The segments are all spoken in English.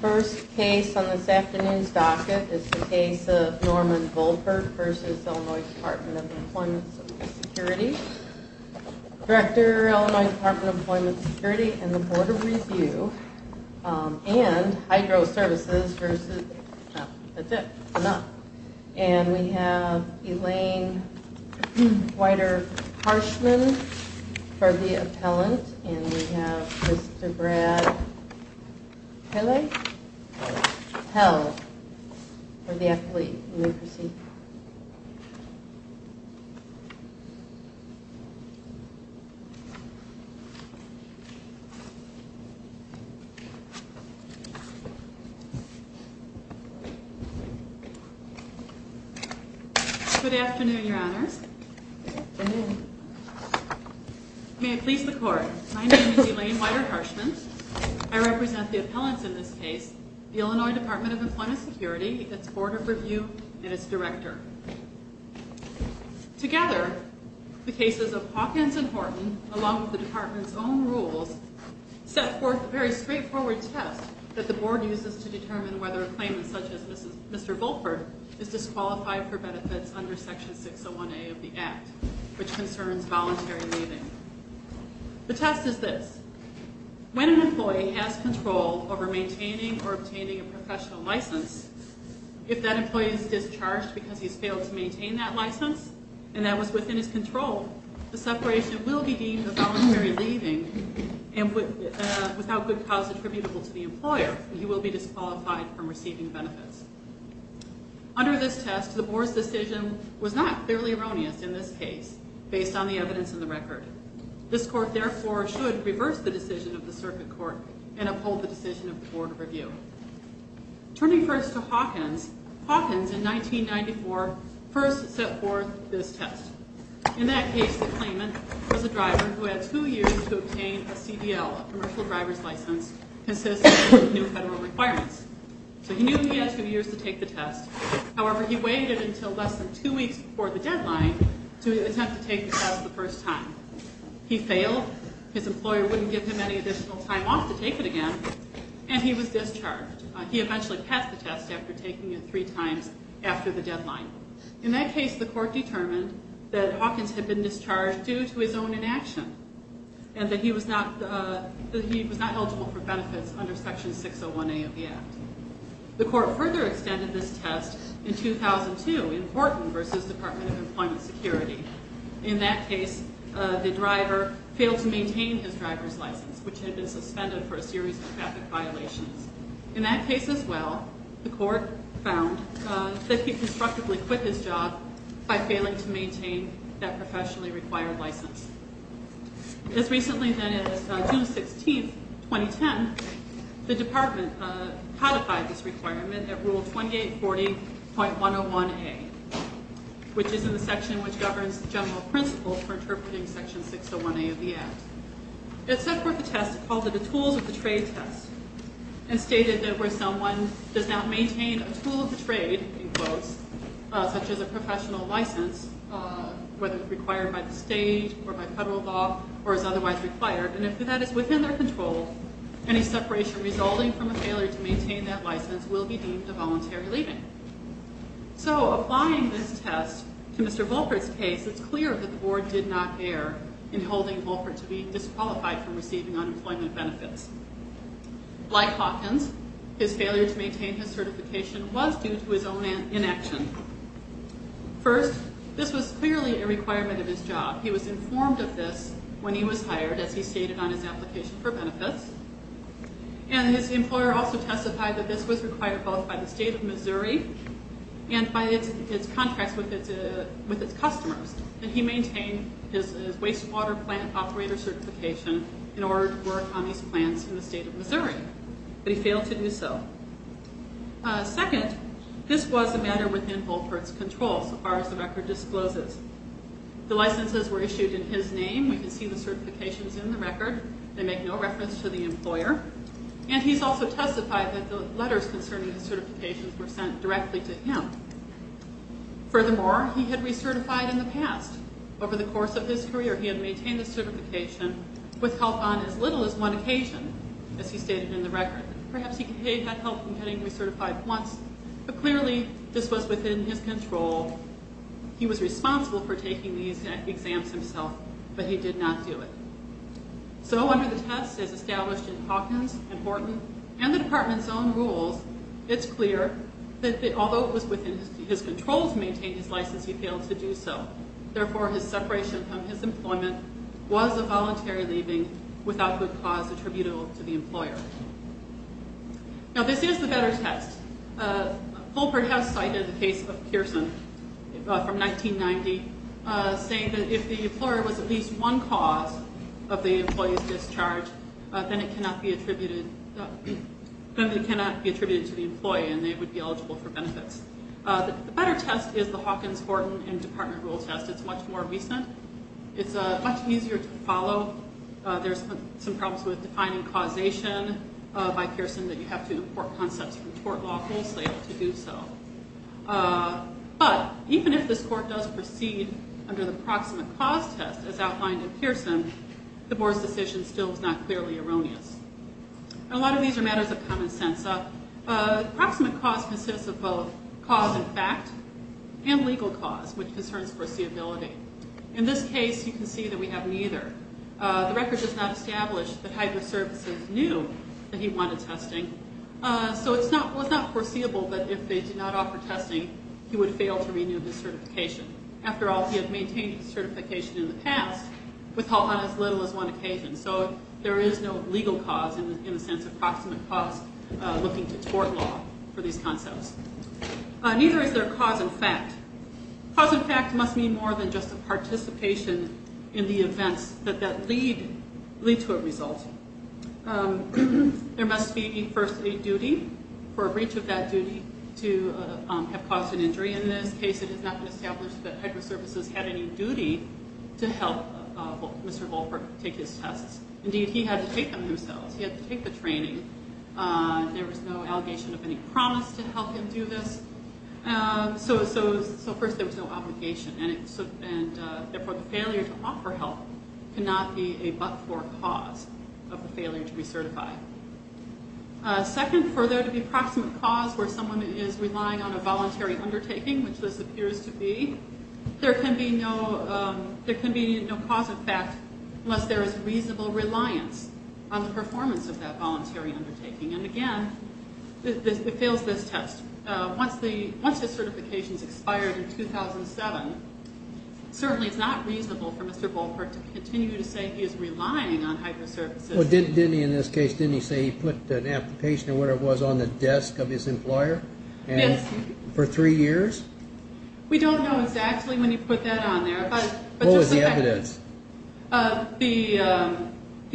First case on this afternoon's docket is the case of Norman Volpert v. Ill. Dept. of Employment Security Director, Ill. Dept. of Employment Security and the Board of Review and Hydro Services v. And we have Elaine Whiter Harshman for the appellant and we have Mr. Brad Pelle for the appellate Good afternoon, Your Honors. May it please the Court. My name is Elaine Whiter Harshman. I represent the appellants in this case, the Illinois Department of Employment Security, its Board of Review, and its Director. Together, the cases of Hawkins and Horton, along with the Department's own rules, set forth a very straightforward test that the Board uses to determine whether a claimant such as Mr. Volpert is disqualified for benefits under Section 601A of the Act, which concerns voluntary leaving. The test is this. When an employee has control over maintaining or obtaining a professional license, if that employee is discharged because he's failed to maintain that license and that was within his control, the separation will be deemed a voluntary leaving and without good cause attributable to the employer, he will be disqualified from receiving benefits. Under this test, the Board's decision was not clearly erroneous in this case, based on the evidence in the record. This Court, therefore, should reverse the decision of the Circuit Court and uphold the decision of the Board of Review. Turning first to Hawkins, Hawkins, in 1994, first set forth this test. In that case, the claimant was a driver who had two years to obtain a CDL, a commercial driver's license, consistent with new federal requirements. So he knew he had two years to take the test. However, he waited until less than two weeks before the deadline to attempt to take the test the first time. He failed, his employer wouldn't give him any additional time off to take it again, and he was discharged. He eventually passed the test after taking it three times after the deadline. In that case, the Court determined that Hawkins had been discharged due to his own inaction and that he was not eligible for benefits under Section 601A of the Act. The Court further extended this test in 2002 in Horton v. Department of Employment Security. In that case, the driver failed to maintain his driver's license, which had been suspended for a series of traffic violations. In that case as well, the Court found that he constructively quit his job by failing to maintain that professionally required license. As recently then as June 16, 2010, the Department codified this requirement at Rule 2840.101A, which is in the section which governs general principles for interpreting Section 601A of the Act. It set forth a test called the tools of the trade test and stated that where someone does not maintain a tool of the trade, in quotes, such as a professional license, whether it's required by the state or by federal law or is otherwise required, and if that is within their control, any separation resulting from a failure to maintain that license will be deemed a voluntary leaving. So applying this test to Mr. Volpert's case, it's clear that the Board did not care in holding Volpert to be disqualified from receiving unemployment benefits. Like Hawkins, his failure to maintain his certification was due to his own inaction. First, this was clearly a requirement of his job. He was informed of this when he was hired, as he stated on his application for benefits. And his employer also testified that this was required both by the state of Missouri and by its contracts with its customers. And he maintained his wastewater plant operator certification in order to work on his plans in the state of Missouri. But he failed to do so. Second, this was a matter within Volpert's control, so far as the record discloses. The licenses were issued in his name. We can see the certifications in the record. They make no reference to the employer. And he's also testified that the letters concerning the certifications were sent directly to him. Furthermore, he had recertified in the past. Over the course of his career, he had maintained his certification with help on as little as one occasion, as he stated in the record. Perhaps he had had help in getting recertified once, but clearly this was within his control. He was responsible for taking these exams himself, but he did not do it. So under the test as established in Hawkins and Horton and the department's own rules, it's clear that although it was within his control to maintain his license, he failed to do so. Therefore, his separation from his employment was a voluntary leaving without good cause attributable to the employer. Now, this is the better test. Fulpert has cited the case of Pearson from 1990, saying that if the employer was at least one cause of the employee's discharge, then it cannot be attributed to the employee and they would be eligible for benefits. The better test is the Hawkins, Horton, and department rule test. It's much more recent. It's much easier to follow. There's some problems with defining causation by Pearson that you have to import concepts from tort law, mostly able to do so. But even if this court does proceed under the proximate cause test as outlined in Pearson, the board's decision still is not clearly erroneous. A lot of these are matters of common sense. Proximate cause consists of both cause and fact and legal cause, which concerns foreseeability. In this case, you can see that we have neither. The record does not establish that Hydro Services knew that he wanted testing. So it's not foreseeable that if they did not offer testing, he would fail to renew his certification. After all, he had maintained his certification in the past on as little as one occasion. So there is no legal cause in the sense of proximate cause looking to tort law for these concepts. Neither is there cause and fact. Cause and fact must mean more than just a participation in the events that lead to a result. There must be, firstly, duty for a breach of that duty to have caused an injury. In this case, it has not been established that Hydro Services had any duty to help Mr. Volkberg take his tests. Indeed, he had to take them himself. He had to take the training. There was no allegation of any promise to help him do this. So first, there was no obligation. And therefore, the failure to offer help cannot be a but-for cause of the failure to recertify. Second, for there to be proximate cause where someone is relying on a voluntary undertaking, which this appears to be, there can be no cause and fact unless there is reasonable reliance on the performance of that voluntary undertaking. And again, it fails this test. Once the certifications expired in 2007, certainly it's not reasonable for Mr. Volkberg to continue to say he is relying on Hydro Services. Well, didn't he in this case, didn't he say he put an application or whatever it was on the desk of his employer for three years? We don't know exactly when he put that on there. What was the evidence? The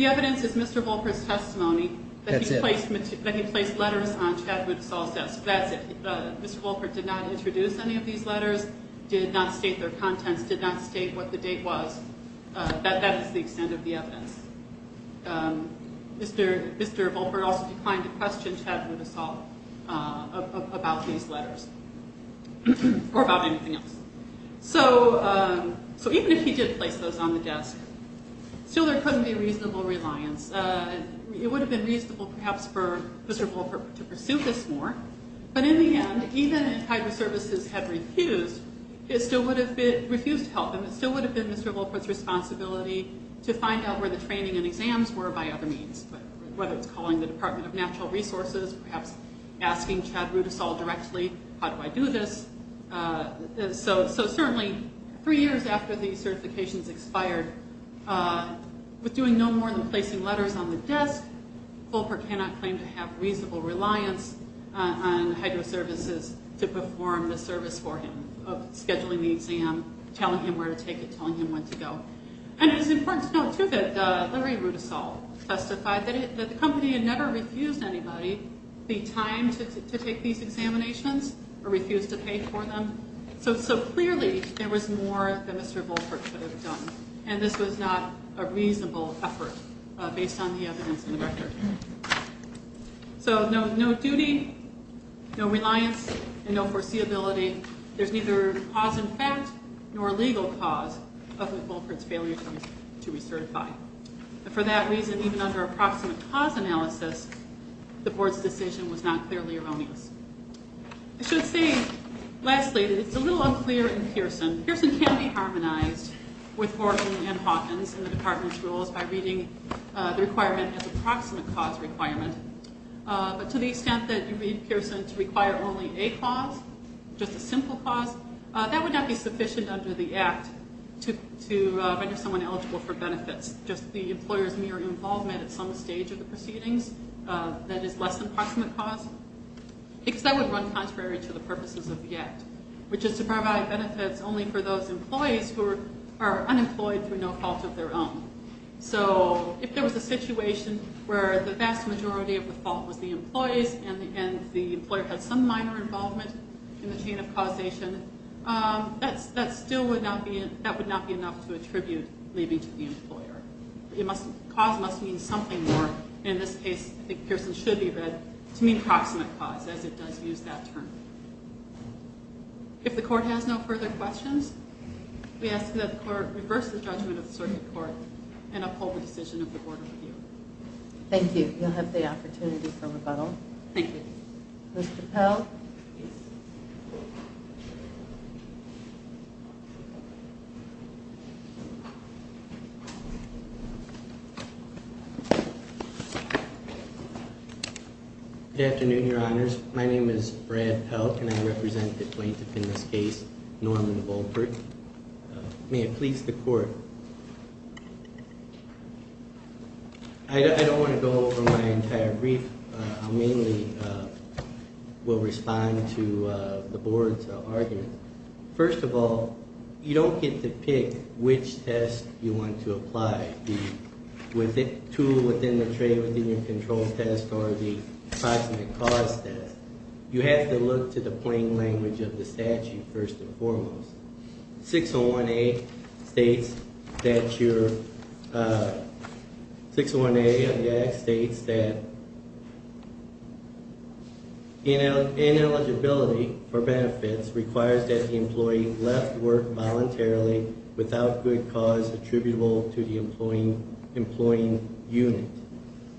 evidence is Mr. Volkberg's testimony that he placed letters on Chad Woodisall's desk. That's it. Mr. Volkberg did not introduce any of these letters, did not state their contents, did not state what the date was. That is the extent of the evidence. Mr. Volkberg also declined to question Chad Woodisall about these letters or about anything else. So even if he did place those on the desk, still there couldn't be reasonable reliance. It would have been reasonable perhaps for Mr. Volkberg to pursue this more. But in the end, even if Hydro Services had refused, it still would have refused to help him. It still would have been Mr. Volkberg's responsibility to find out where the training and exams were by other means, whether it's calling the Department of Natural Resources, perhaps asking Chad Woodisall directly, how do I do this? So certainly, three years after these certifications expired, with doing no more than placing letters on the desk, Volkberg cannot claim to have reasonable reliance on Hydro Services to perform the service for him, scheduling the exam, telling him where to take it, telling him when to go. And it's important to note too that Larry Woodisall testified that the company had never refused anybody the time to take these examinations or refused to pay for them, so clearly there was more that Mr. Volkberg could have done. And this was not a reasonable effort based on the evidence in the record. So no duty, no reliance, and no foreseeability. There's neither cause in fact nor legal cause of Volkberg's failure to recertify. For that reason, even under approximate cause analysis, the board's decision was not clearly erroneous. I should say, lastly, that it's a little unclear in Pearson. Pearson can be harmonized with Horton and Hawkins in the department's rules by reading the requirement as an approximate cause requirement, but to the extent that you read Pearson to require only a cause, just a simple cause, that would not be sufficient under the Act to render someone eligible for benefits, just the employer's mere involvement at some stage of the proceedings that is less than approximate cause, because that would run contrary to the purposes of the Act, which is to provide benefits only for those employees who are unemployed through no fault of their own. So if there was a situation where the vast majority of the fault was the employee's and the employer had some minor involvement in the chain of causation, that still would not be enough to attribute leaving to the employer. Cause must mean something more. In this case, I think Pearson should be read to mean proximate cause, as it does use that term. If the Court has no further questions, we ask that the Court reverse the judgment of the Circuit Court and uphold the decision of the Board of Review. Thank you. You'll have the opportunity for rebuttal. Thank you. Mr. Pell. Good afternoon, Your Honors. My name is Brad Pell, and I represent the plaintiff in this case, Norman Volkert. May it please the Court. I don't want to go over my entire brief. I mainly will respond to the Board's arguments. First of all, you don't get to pick which test you want to apply, the tool within the tray within your control test or the proximate cause test. You have to look to the plain language of the statute, first and foremost. 601A states that ineligibility for benefits requires that the employee left work voluntarily without good cause attributable to the employing unit.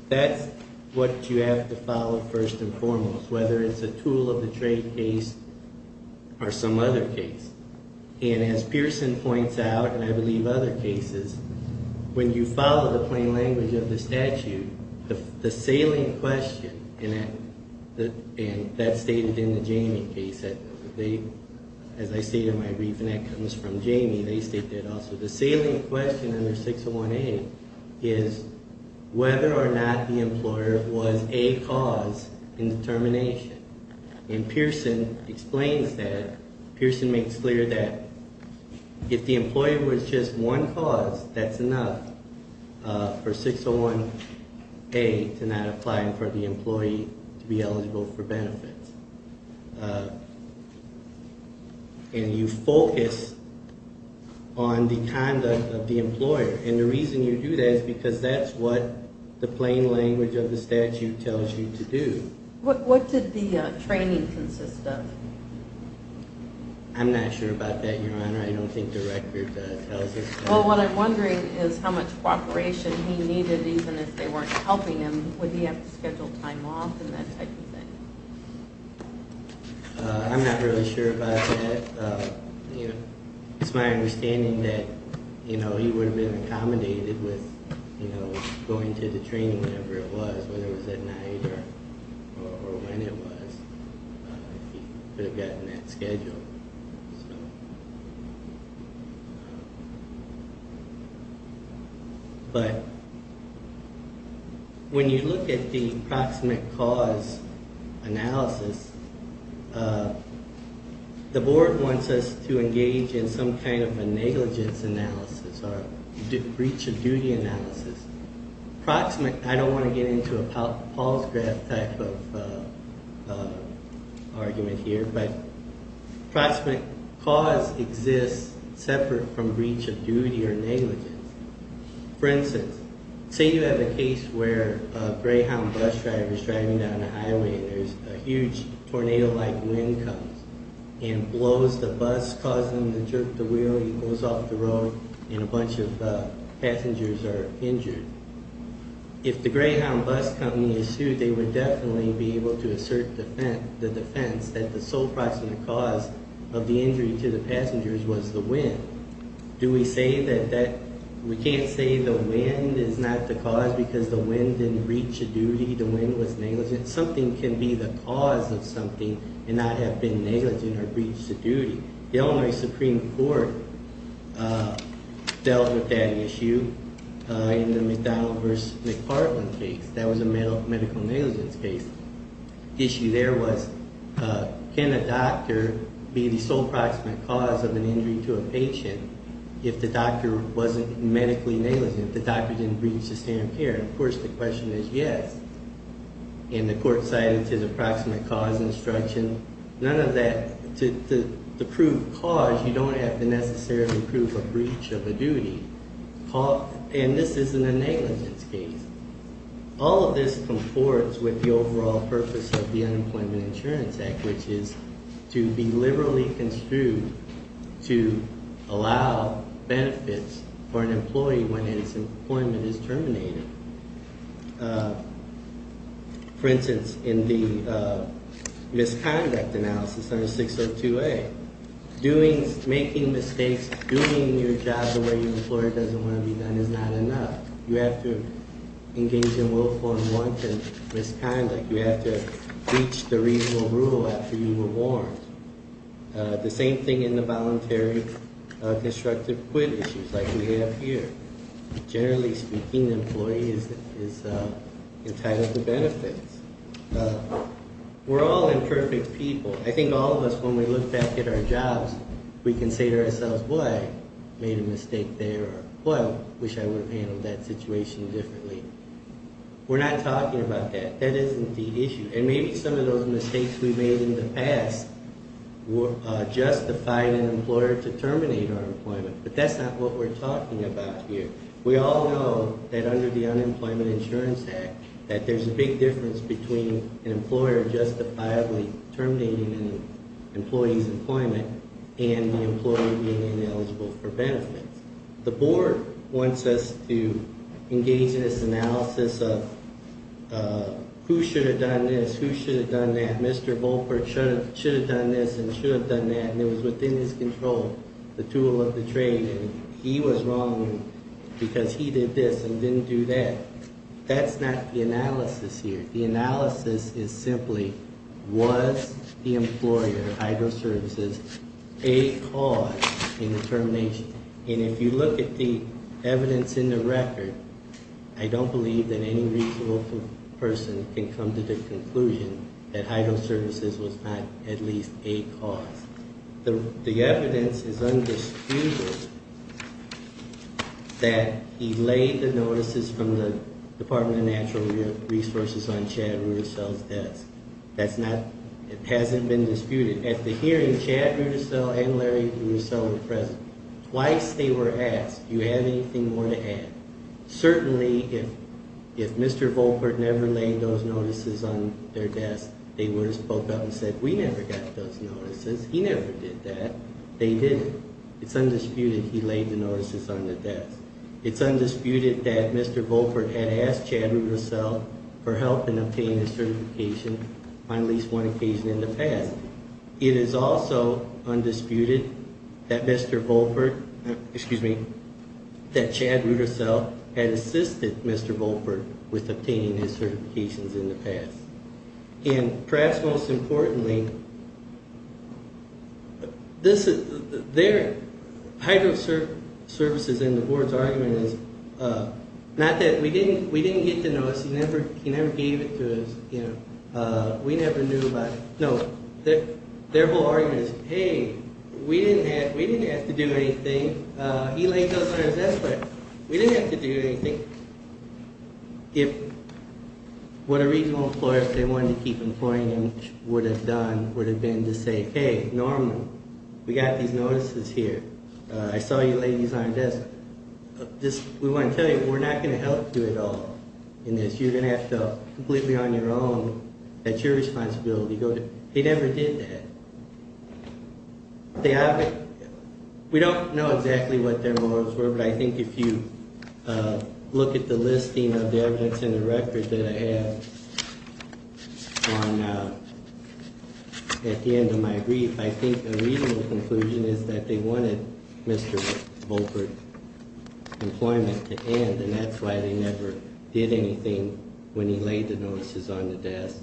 That's what you have to follow, first and foremost, whether it's a tool-of-the-trade case or some other case. And as Pearson points out, and I believe other cases, when you follow the plain language of the statute, the salient question, and that's stated in the Jamie case, as I state in my brief, and that comes from Jamie, they state that also. The salient question under 601A is whether or not the employer was a cause in the termination, and Pearson explains that. Pearson makes clear that if the employer was just one cause, that's enough for 601A to not apply for the employee to be eligible for benefits. And you focus on the conduct of the employer, and the reason you do that is because that's what the plain language of the statute tells you to do. What did the training consist of? I'm not sure about that, Your Honor. I don't think the record tells us. Well, what I'm wondering is how much cooperation he needed, even if they weren't helping him. Would he have to schedule time off and that type of thing? I'm not really sure about that. It's my understanding that he would have been accommodated with going to the training whenever it was, whether it was at night or when it was. He could have gotten that scheduled. But when you look at the proximate cause analysis, the board wants us to engage in some kind of a negligence analysis or breach of duty analysis. I don't want to get into a Paul's graph type of argument here, but proximate cause exists separate from breach of duty or negligence. For instance, say you have a case where a Greyhound bus driver is driving down a highway and there's a huge tornado-like wind comes and blows the bus, causing him to jerk the wheel. He goes off the road and a bunch of passengers are injured. If the Greyhound bus company is sued, they would definitely be able to assert the defense that the sole proximate cause of the injury to the passengers was the wind. We can't say the wind is not the cause because the wind didn't breach a duty, the wind was negligent. Something can be the cause of something and not have been negligent or breached a duty. The Illinois Supreme Court dealt with that issue in the McDonnell v. McPartland case. That was a medical negligence case. The issue there was can a doctor be the sole proximate cause of an injury to a patient if the doctor wasn't medically negligent, if the doctor didn't breach the standard of care? Of course, the question is yes, and the court cited his approximate cause instruction. To prove cause, you don't have to necessarily prove a breach of a duty, and this isn't a negligence case. All of this conforms with the overall purpose of the Unemployment Insurance Act, which is to be liberally construed to allow benefits for an employee when his employment is terminated. For instance, in the misconduct analysis under 602A, making mistakes, doing your job the way your employer doesn't want to be done is not enough. You have to engage in willful and wanton misconduct. You have to breach the reasonable rule after you were warned. The same thing in the voluntary constructive quit issues like we have here. Generally speaking, an employee is entitled to benefits. We're all imperfect people. I think all of us, when we look back at our jobs, we can say to ourselves, well, I made a mistake there, or well, I wish I would have handled that situation differently. We're not talking about that. That isn't the issue, and maybe some of those mistakes we made in the past justified an employer to terminate our employment, but that's not what we're talking about here. We all know that under the Unemployment Insurance Act that there's a big difference between an employer justifiably terminating an employee's employment and the employer being ineligible for benefits. The board wants us to engage in this analysis of who should have done this, who should have done that. Mr. Volkberg should have done this and should have done that, and it was within his control. The tool of the trade, and he was wrong because he did this and didn't do that. That's not the analysis here. The analysis is simply, was the employer, Hydro Services, a cause in the termination? And if you look at the evidence in the record, I don't believe that any reasonable person can come to the conclusion that Hydro Services was not at least a cause. The evidence is undisputed that he laid the notices from the Department of Natural Resources on Chad Rudisell's desk. It hasn't been disputed. At the hearing, Chad Rudisell and Larry Rudisell were present. Twice they were asked, do you have anything more to add? Certainly if Mr. Volkberg never laid those notices on their desk, they would have spoke up and said, we never got those notices. He never did that. They didn't. It's undisputed he laid the notices on the desk. It's undisputed that Mr. Volkberg had asked Chad Rudisell for help in obtaining his certification on at least one occasion in the past. It is also undisputed that Mr. Volkberg, excuse me, that Chad Rudisell had assisted Mr. Volkberg with obtaining his certifications in the past. And perhaps most importantly, their hydro services and the board's argument is not that we didn't get the notice. He never gave it to us. We never knew about it. No. Their whole argument is, hey, we didn't have to do anything. He laid those on his desk, but we didn't have to do anything. If what a reasonable employer, if they wanted to keep employing him would have done would have been to say, Hey, Norman, we got these notices here. I saw you lay these on your desk. We want to tell you, we're not going to help you at all in this. You're going to have to completely on your own. That's your responsibility. He never did that. We don't know exactly what their morals were, but I think if you look at the listing of the evidence in the record that I have. At the end of my brief, I think a reasonable conclusion is that they wanted Mr. Volkberg employment to end. And that's why they never did anything when he laid the notices on the desk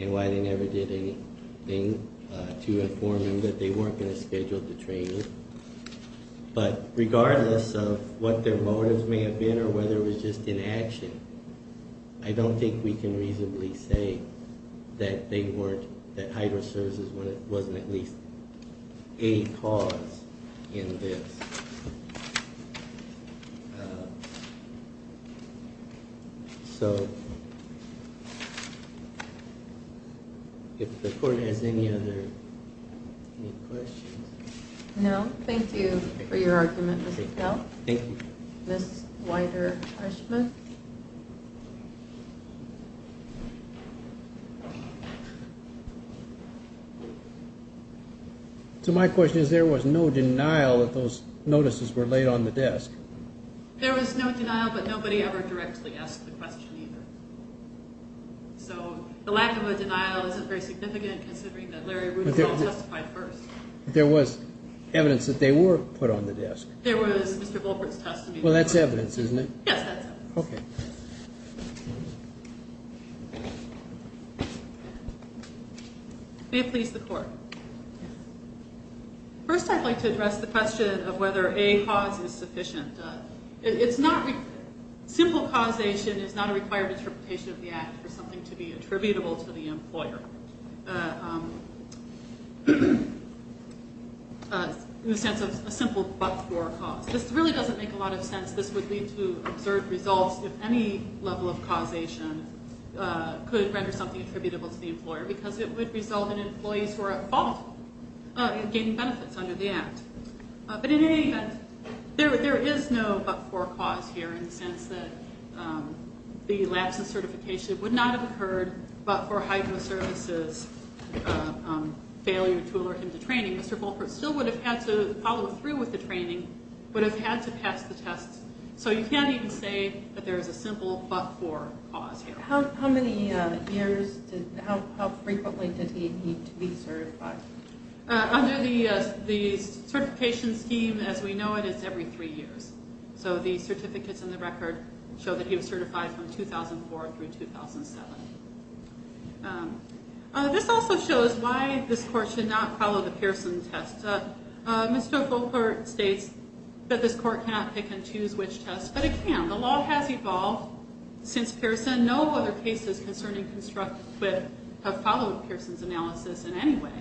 and why they never did anything to inform him that they weren't going to schedule the training. But regardless of what their motives may have been or whether it was just inaction, I don't think we can reasonably say that they weren't that hydro services when it wasn't at least a cause in this. So. If the court has any other questions. No, thank you for your argument. So my question is, there was no denial that those notices were laid on the desk. There was no denial, but nobody ever directly asked the question either. So the lack of a denial isn't very significant considering that Larry was evidence that they were put on the desk. Well, that's evidence, isn't it? First, I'd like to address the question of whether a cause is sufficient. It's not. Simple causation is not a required interpretation of the act for something to be attributable to the employer. In the sense of a simple, but for a cause, this really doesn't make a lot of sense. This would lead to absurd results. If any level of causation could render something attributable to the employer, because it would result in employees who are at fault gaining benefits under the act. But in any event, there is no, but for cause here in the sense that the lapses certification would not have occurred, but for hydro services failure to alert him to training, Mr. Volkert still would have had to follow through with the training, but have had to pass the tests. So you can't even say that there is a simple, but for cause here. How many years did, how frequently did he need to be certified? Under the certification scheme, as we know it, it's every three years. So the certificates in the record show that he was certified from 2004 through 2007. This also shows why this court should not follow the Pearson test. Mr. Volkert states that this court cannot pick and choose which test, but it can. The law has evolved since Pearson. No other cases concerning construct, but have followed Pearson's analysis in any way.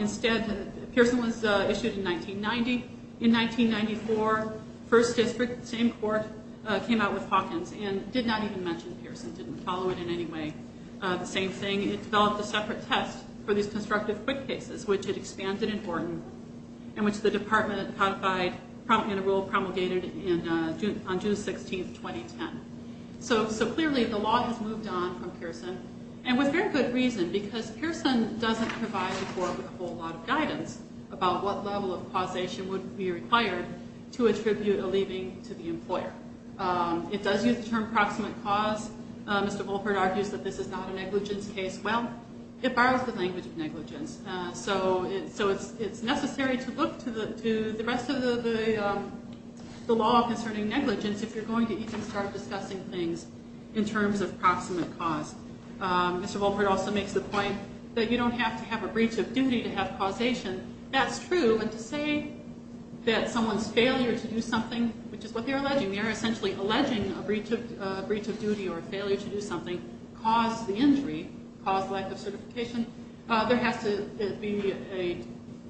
Instead, Pearson was issued in 1990. In 1994, first district, same court came out with Hawkins and did not even mention Pearson, didn't follow it in any way. The same thing. It developed a separate test for these constructive quick cases, which had expanded in Horton and which the department codified, prompting a rule promulgated in June, on June 16th, 2010. So, so clearly the law has moved on from Pearson and with very good reason because Pearson doesn't provide the court with a whole lot of guidance about what level of causation would be required to attribute a leaving to the employer. It does use the term proximate cause, Mr. Wolpert argues that this is not a negligence case. Well, it borrows the language of negligence. So it, so it's, it's necessary to look to the, to the rest of the, the, the law concerning negligence. If you're going to even start discussing things in terms of proximate cause, Mr. Wolpert also makes the point that you don't have to have a breach of duty to have causation. That's true. And to say that someone's failure to do something, which is what they're alleging, they're essentially alleging a breach of, a breach of duty or failure to do something caused the injury, caused lack of certification. There has to be a,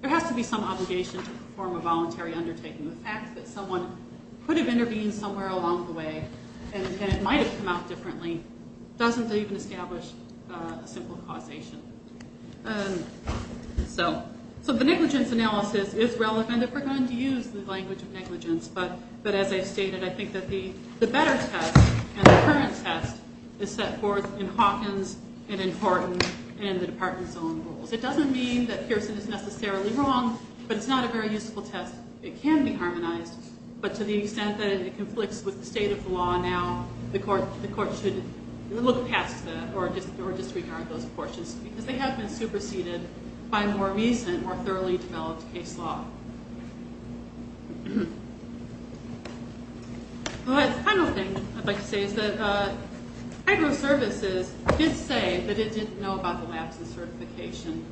there has to be some obligation to perform a voluntary undertaking. The fact that someone could have intervened somewhere along the way and it might've come out differently, doesn't even establish a simple causation. So, so the negligence analysis is relevant if we're going to use the language of negligence. But, but as I stated, I think that the, the better test and the current test is set forth in Hawkins and important and the department's own rules. It doesn't mean that Pearson is necessarily wrong, but it's not a very useful test. It can be harmonized, but to the extent that it conflicts with the state of the law, now the court, the court should look past that or just, or disregard those portions because they have been superseded by more recent or thoroughly developed case law. Well, the final thing I'd like to say is that hydro services did say that it didn't know about the lapse in certification.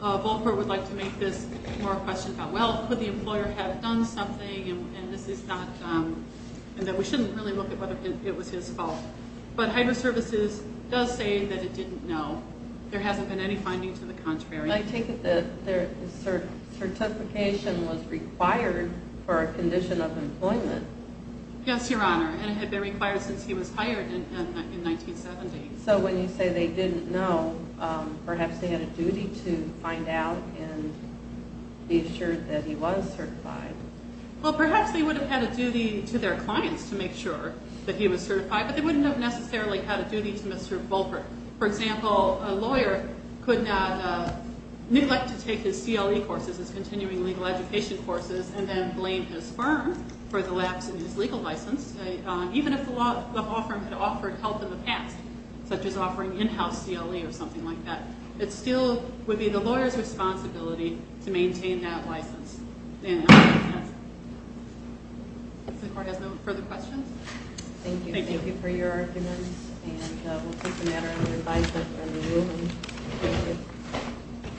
Volcker would like to make this more a question about, well, could the employer have done something? And this is not, and that we shouldn't really look at whether it was his fault, but hydro services does say that it didn't know there hasn't been any finding to the contrary. I take it that there is certification was required for a condition of employment. Yes, Your Honor. And it had been required since he was hired in, in 1970. So when you say they didn't know, perhaps they had a duty to find out and be assured that he was certified. Well, perhaps they would have had a duty to their clients to make sure that he was certified, but they wouldn't have necessarily had a duty to Mr. Volcker. For example, a lawyer could not neglect to take his CLE courses, his continuing legal education courses, and then blame his firm for the lapse in his legal license. Even if the law firm had offered help in the past, such as offering in-house CLE or something like that, it still would be the lawyer's responsibility to maintain that license. Does the court have no further questions? Thank you. Thank you for your arguments. And we'll take a matter under advisement from the ruling.